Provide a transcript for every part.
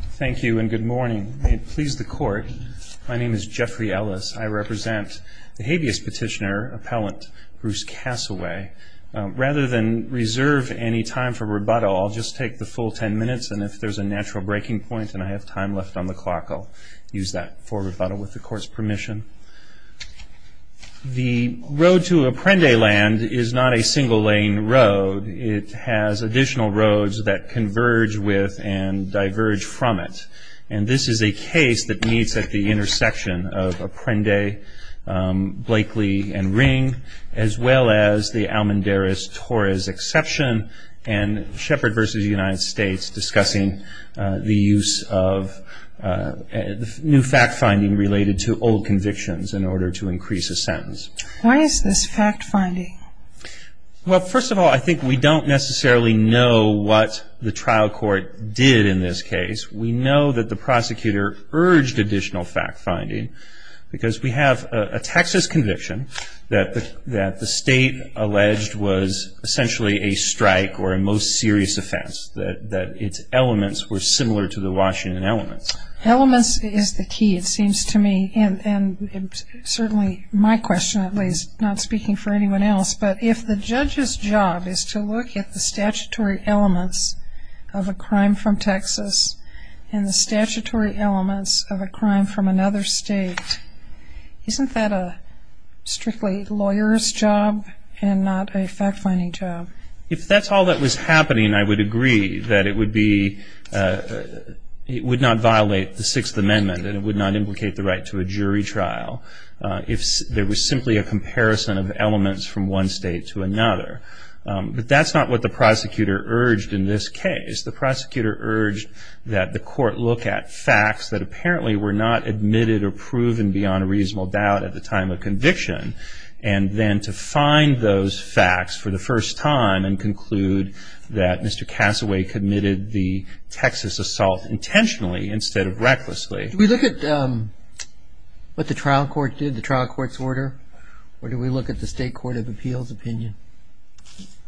Thank you and good morning. May it please the court, my name is Jeffrey Ellis. I represent the habeas petitioner, appellant Bruce Casaway. Rather than reserve any time for rebuttal, I'll just take the full ten minutes and if there's a natural breaking point and I have time left on the clock, I'll use that for rebuttal with the court's permission. The road to Apprendeland is not a single lane road. It has additional roads that converge with and diverge from it. And this is a case that meets at the intersection of Apprende, Blakely and Ring, as well as the Almendarez-Torres exception and Shepard v. United States discussing the use of new fact finding related to old convictions in order to increase a sentence. Why is this fact finding? Well, first of all, I think we don't necessarily know what the trial court did in this case. We know that the prosecutor urged additional fact finding because we have a Texas conviction that the state alleged was essentially a strike or a most serious offense, that its elements were similar to the Washington elements. Elements is the key, it seems to me, and certainly my question at least, not speaking for anyone else, but if the judge's job is to look at the statutory elements of a crime from Texas and the statutory elements of a crime from another state, isn't that a strictly lawyer's job and not a fact finding job? If that's all that was happening, I would agree that it would be, it would not violate the Sixth Amendment and it would not implicate the right to a jury trial. If there was simply a comparison of elements from one state to another, but that's not what the prosecutor urged in this case. The prosecutor urged that the court look at facts that apparently were not admitted or proven beyond a reasonable doubt at the time of conviction and then to find those facts for the first time and conclude that Mr. Cassaway committed the Texas assault intentionally instead of recklessly. Do we look at what the trial court did, the trial court's order, or do we look at the State Court of Appeals opinion?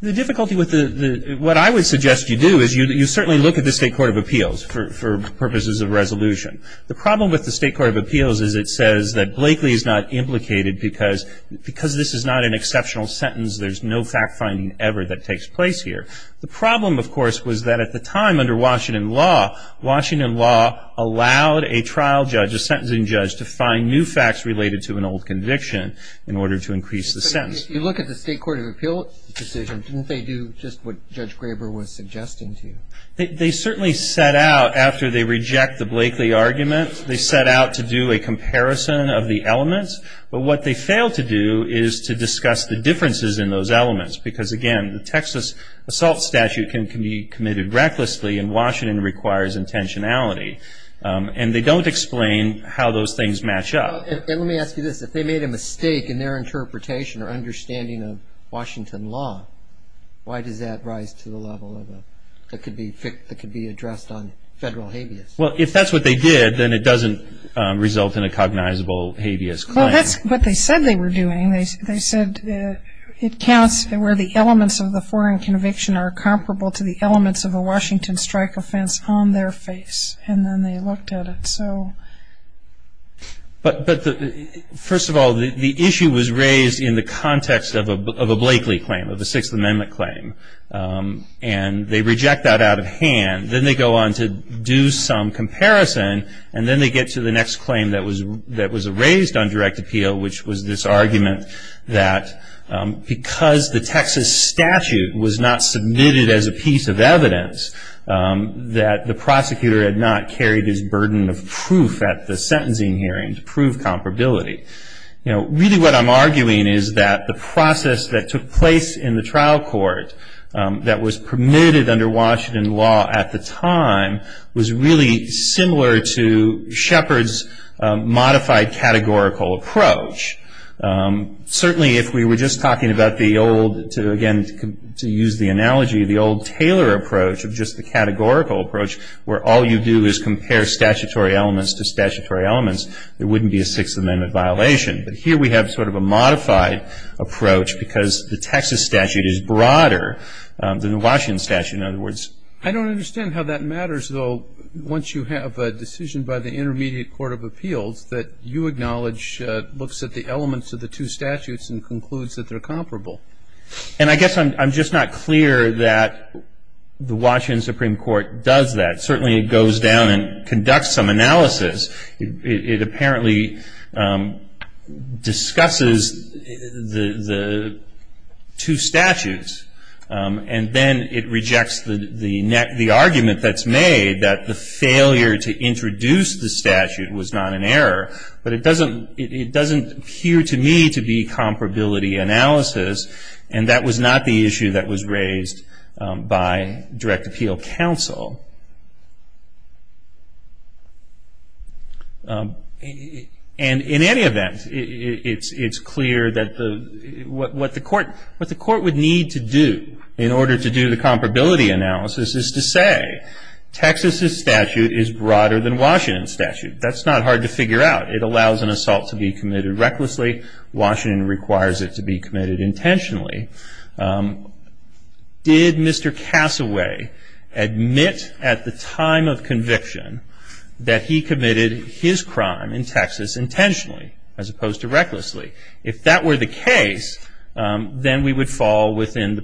The difficulty with the, what I would suggest you do is you certainly look at the State Court of Appeals for purposes of resolution. The problem with the State Court of Appeals is it says that Blakely is not implicated because this is not an exceptional sentence, there's no fact finding ever that takes place here. The problem, of course, was that at the time under Washington law, Washington law allowed a trial judge, a sentencing judge, to find new facts related to an old conviction in order to increase the sentence. But if you look at the State Court of Appeals decision, didn't they do just what Judge Graber was suggesting to you? They certainly set out, after they reject the Blakely argument, they set out to do a comparison of the elements, but what they failed to do is to discuss the differences in those elements. Because again, the Texas assault statute can be committed recklessly and Washington requires intentionality. And they don't explain how those things match up. And let me ask you this, if they made a mistake in their interpretation or understanding of Washington law, why does that rise to the level that could be addressed on federal habeas? Well if that's what they did, then it doesn't result in a cognizable habeas claim. Well that's what they said they were doing. They said it counts where the elements of the foreign conviction are comparable to the elements of a Washington strike offense on their face. And then they looked at it. But first of all, the issue was raised in the context of a Blakely claim, of a Sixth Amendment claim. And they reject that out of hand. Then they go on to do some comparison and then they get to the next claim that was raised on direct appeal, which was this argument that because the Texas statute was not submitted as a piece of evidence, that the prosecutor had not carried his burden of proof at the sentencing hearing to prove comparability. Really what I'm arguing is that the process that took place in the trial court that was really similar to Shepard's modified categorical approach. Certainly if we were just talking about the old, to again use the analogy, the old Taylor approach of just the categorical approach, where all you do is compare statutory elements to statutory elements, there wouldn't be a Sixth Amendment violation. But here we have sort of a modified approach because the Texas statute is broader than the Washington statute. I don't understand how that matters, though, once you have a decision by the Intermediate Court of Appeals that you acknowledge looks at the elements of the two statutes and concludes that they're comparable. And I guess I'm just not clear that the Washington Supreme Court does that. Certainly it goes down and conducts some analysis. It apparently discusses the two statutes and then it rejects the argument that's made that the failure to introduce the statute was not an error. But it doesn't appear to me to be comparability analysis and that was not the issue that was raised by direct appeal counsel. And in any event, it's clear that what the court would need to do in order to do the comparability analysis is to say Texas' statute is broader than Washington's statute. That's not hard to figure out. It allows an assault to be committed recklessly. Washington requires it to be committed intentionally. Did Mr. Cassaway admit at the time of conviction that he committed his crime in Texas intentionally as opposed to recklessly? If that were the case, we would fall within the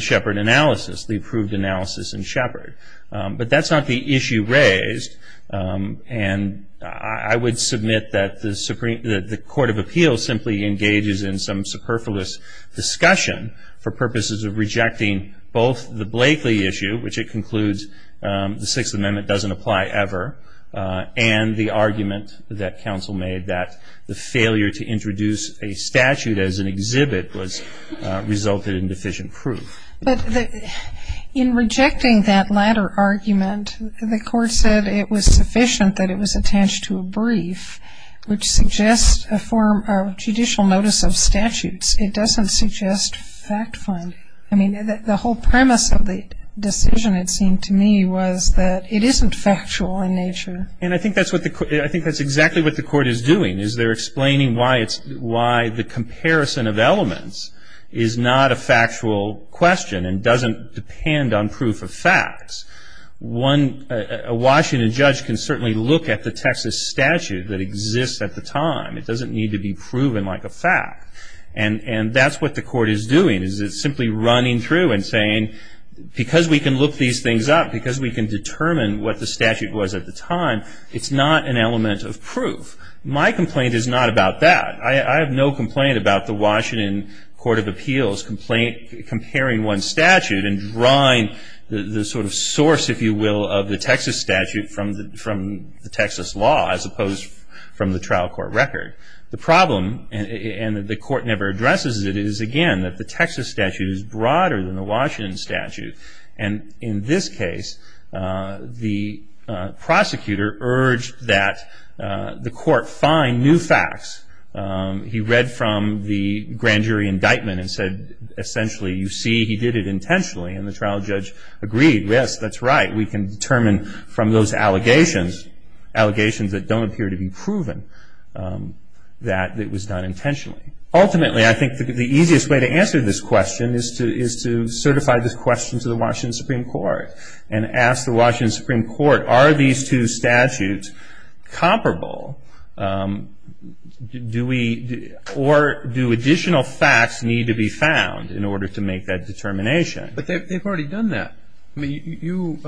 Sheppard analysis, the approved analysis in Sheppard. But that's not the issue raised. And I would submit that the Court of Appeals simply engages in some superfluous discussion for purposes of rejecting both the Blakely issue, which it concludes the Sixth Amendment doesn't apply ever, and the argument that counsel made that the failure to introduce a statute as an exhibit resulted in deficient proof. In rejecting that latter argument, the Court said it was sufficient that it was attached to a brief, which suggests a form of judicial notice of statutes. It doesn't suggest fact finding. I mean, the whole premise of the decision, it seemed to me, was that it isn't factual in nature. And I think that's exactly what the Court is doing, is they're explaining why the comparison of elements is not a factual question and doesn't depend on proof of facts. A Washington judge can certainly look at the Texas statute that exists at the time. It doesn't need to be proven like a fact. And that's what the Court is doing, is it's simply running through and saying, because we can look these things up, because we can determine what the statute was at the time, it's not an element of proof. My complaint is not about that. I have no complaint about the Washington Court of Appeals comparing one statute and drawing the sort of source, if you will, of the Texas statute from the Texas law, as opposed from the trial court record. The problem, and the Court never addresses it, is again that the Texas statute is broader than the Washington statute. And in this case, the prosecutor urged that the Court find new facts. He read from the grand jury indictment and said, essentially, you see he did it intentionally. And the trial judge agreed, yes, that's right, we can determine from those allegations, allegations that don't appear to be proven, that it was done intentionally. Ultimately, I think the easiest way to answer this question is to certify this question to the Washington Supreme Court and ask the Washington Supreme Court, are these two statutes comparable? Do we, or do additional facts need to be found in order to make that determination? But they've already done that. I mean, you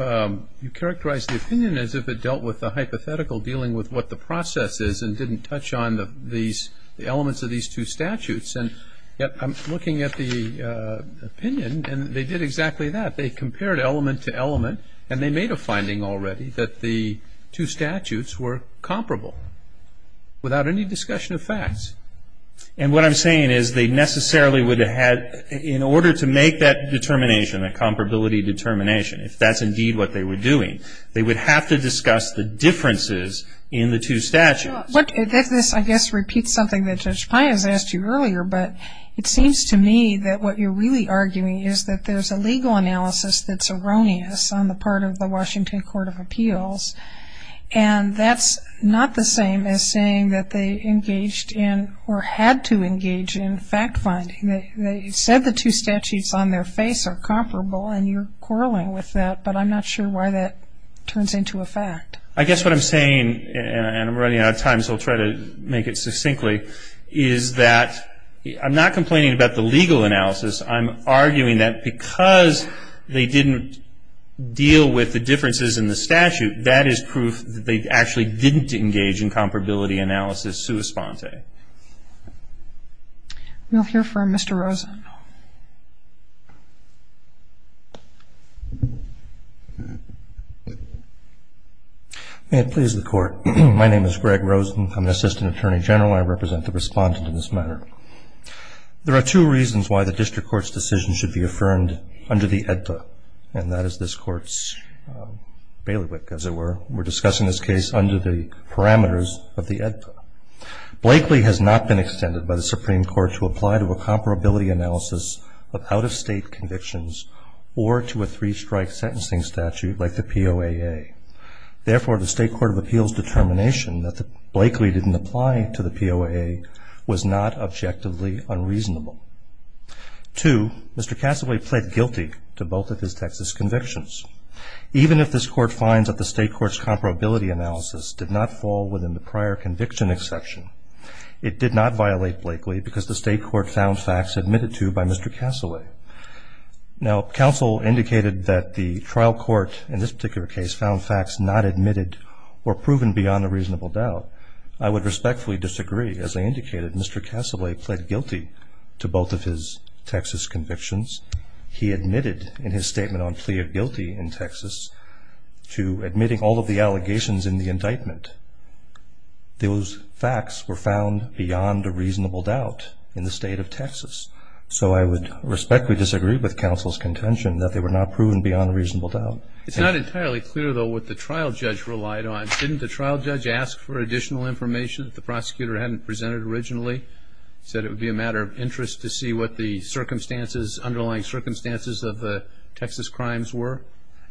characterized the opinion as if it dealt with the hypothetical, dealing with what the process is, and didn't touch on the elements of these two statutes. And yet, I'm looking at the opinion, and they did exactly that. They compared element to element, and they made a finding already that the two statutes were comparable, without any discussion of facts. And what I'm saying is they necessarily would have had, in order to make that determination, a comparability determination, if that's indeed what they were doing, they would have to discuss the differences in the two statutes. But this, I guess, repeats something that Judge Pai has asked you earlier, but it seems to me that what you're really arguing is that there's a legal analysis that's erroneous on the part of the Washington Court of Appeals, and that's not the same as saying that they engaged in, or had to engage in, fact finding. They said the two statutes on their face are comparable, and you're quarreling with that, but I'm not sure why that turns into a fact. I guess what I'm saying, and I'm running out of time, so I'll try to make it succinctly, is that I'm not complaining about the legal analysis. I'm arguing that because they didn't deal with the differences in the statute, that is proof that they actually didn't engage in comparability analysis sua sponte. We'll hear from Mr. Rosen. May it please the Court. My name is Greg Rosen. I'm an Assistant Attorney General. I represent the respondent in this matter. There are two reasons why the district court's decision should be affirmed under the AEDPA, and that is this Court's bailiwick, as it were. We're discussing this case under the parameters of the AEDPA. Blakely has not been extended by the Supreme Court to apply to a comparability analysis of out-of-state convictions or to a three-strike sentencing statute like the POAA. Therefore, the State Court of Appeals determination that Blakely didn't apply to the POAA was not objectively unreasonable. Two, Mr. Cassaway pled guilty to both of his Texas convictions. Even if this Court finds that the State Court's comparability analysis did not fall within the prior conviction exception, it did not violate Blakely because the State Court found facts admitted to by Mr. Cassaway. Now, counsel indicated that the trial court in this particular case found facts not admitted or proven beyond a reasonable doubt. I would respectfully disagree. As I indicated, Mr. Cassaway pled guilty to both of his Texas convictions. He admitted in his statement on plea of guilty in Texas to admitting all of the allegations in the indictment. Those facts were not proven beyond a reasonable doubt. It's not entirely clear, though, what the trial judge relied on. Didn't the trial judge ask for additional information that the prosecutor hadn't presented originally? Said it would be a matter of interest to see what the circumstances, underlying circumstances of the Texas crimes were?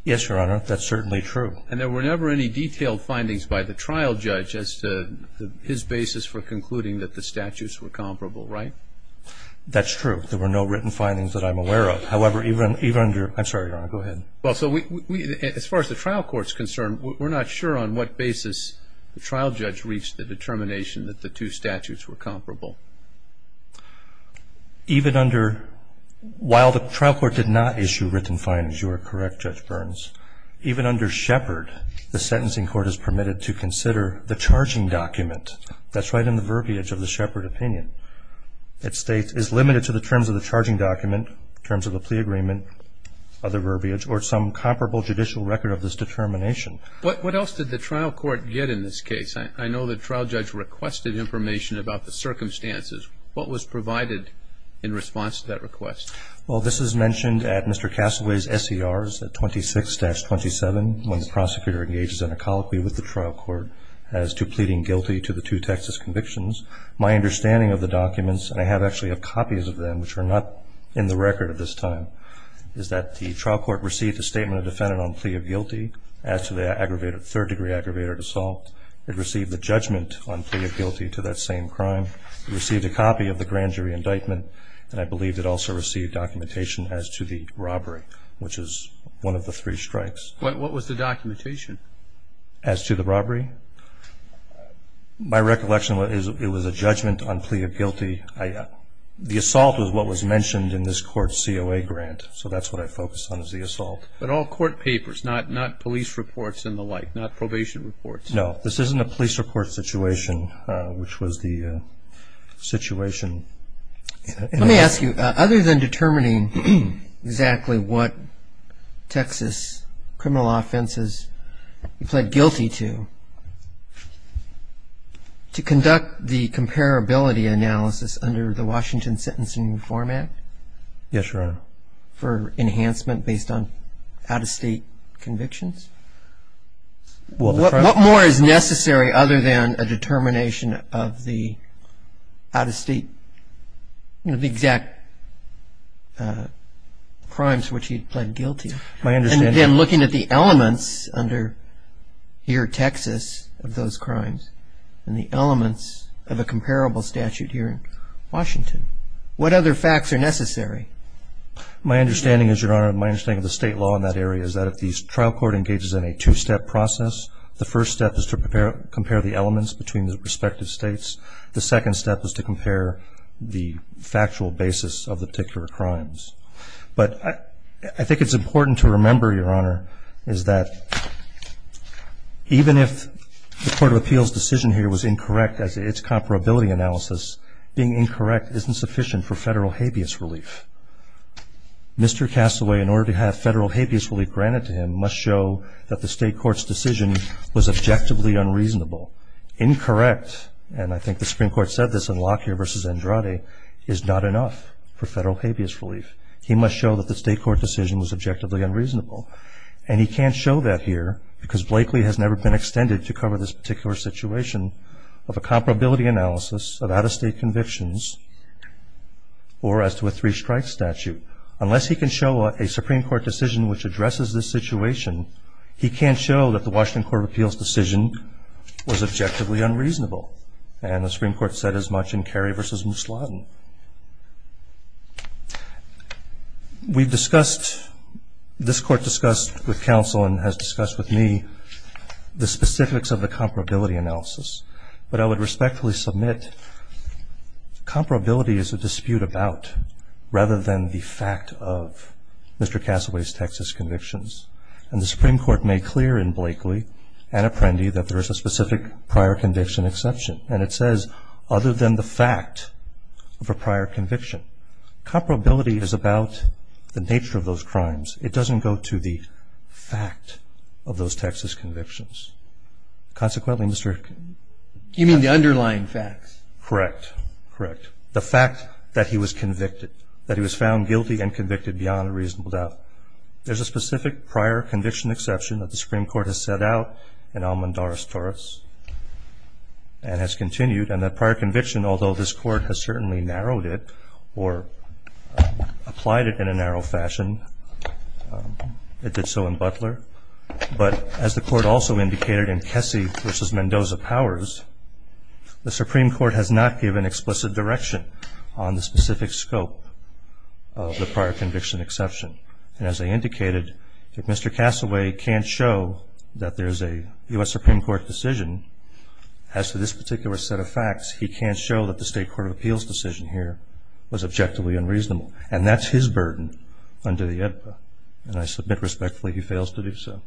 Yes, Your Honor. That's certainly true. And there were never any detailed findings by the trial judge as to his basis for concluding that the statutes were comparable, right? That's true. There were no written findings that I'm aware of. However, even under – I'm sorry, Your Honor. Go ahead. Well, so we – as far as the trial court's concerned, we're not sure on what basis the trial judge reached the determination that the two statutes were comparable. Even under – while the trial court did not issue written findings, you are correct, Judge Burns. Even under Shepard, the sentencing court is permitted to consider the charging document. That's right in the verbiage of the Shepard opinion. It states, is limited to the terms of the charging document, terms of the plea agreement, other verbiage, or some comparable judicial record of this determination. What else did the trial court get in this case? I know the trial judge requested information about the circumstances. What was provided in response to that request? Well, this is mentioned at Mr. Castaway's SERs, at 26-27, when the prosecutor engages in a colloquy with the trial court as to pleading guilty to the two Texas convictions. My understanding of the documents – and I have actually copies of them, which are not in the record at this time – is that the trial court received a statement of defendant on plea of guilty as to the aggravated – third-degree aggravated assault. It received a judgment on plea of guilty to that same crime. It received a copy of the grand jury indictment. And I believe it also received documentation as to the robbery, which is one of the three strikes. What was the documentation? As to the robbery? My recollection is it was a judgment on plea of guilty. The assault was what was mentioned in this court's COA grant, so that's what I focused on, was the assault. But all court papers, not police reports and the like, not probation reports. No. This isn't a police report situation, which was the situation in the – Let me ask you, other than determining exactly what Texas criminal offenses you pled guilty to, to conduct the comparability analysis under the Washington Sentencing Reform Act – Yes, Your Honor. For enhancement based on out-of-state convictions. What more is necessary other than a determination of the out-of-state, you know, the exact crimes for which he had pled guilty? My understanding – And then looking at the elements under here, Texas, of those crimes, and the elements of a comparable statute here in Washington. What other facts are necessary? My understanding is, Your Honor, my understanding of the state law in that area is that if the trial court engages in a two-step process, the first step is to compare the elements between the respective states. The second step is to compare the factual basis of the particular crimes. But I think it's important to remember, Your Honor, is that even if the Court of Appeals' decision here was incorrect as its comparability analysis, being incorrect isn't sufficient for federal habeas relief. Mr. Castaway, in order to have federal habeas relief granted to him, must show that the incorrect – and I think the Supreme Court said this in Lockyer v. Andrade – is not enough for federal habeas relief. He must show that the state court decision was objectively unreasonable. And he can't show that here because Blakely has never been extended to cover this particular situation of a comparability analysis of out-of-state convictions or as to a three-strike statute. Unless he can show a Supreme Court decision which addresses this situation, he can't show that the Washington Court of Appeals' decision was objectively unreasonable. And the Supreme Court said as much in Carey v. Musladen. We've discussed – this Court discussed with counsel and has discussed with me the specifics of the comparability analysis. But I would respectfully submit comparability is a dispute about, rather than the fact of, Mr. Castaway's Texas convictions. And the Supreme Court said in Blakely and Apprendi that there is a specific prior conviction exception. And it says, other than the fact of a prior conviction. Comparability is about the nature of those crimes. It doesn't go to the fact of those Texas convictions. Consequently, Mr. – You mean the underlying facts? Correct. Correct. The fact that he was convicted, that he was found guilty and convicted beyond a reasonable doubt. There's a specific prior conviction exception that the Supreme Court has set out in Almond, Doris, Torres and has continued. And that prior conviction, although this Court has certainly narrowed it or applied it in a narrow fashion, it did so in Butler. But as the Court also indicated in Kessy v. Mendoza Powers, the Supreme Court has not given explicit direction on the specific scope of the prior conviction exception. And as I indicated, if Mr. Castaway can't show that there's a U.S. Supreme Court decision as to this particular set of facts, he can't show that the State Court of Appeals decision here was objectively unreasonable. And that's his burden under the AEDPA. And I submit respectfully he fails to do so.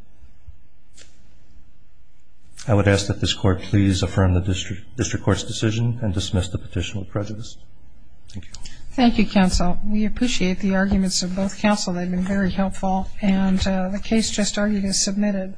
I would ask that this Court please affirm the district court's decision and dismiss the petition with prejudice. Thank you. Thank you, counsel. We appreciate the arguments of both counsel. They've been very helpful. And the case just argued is submitted.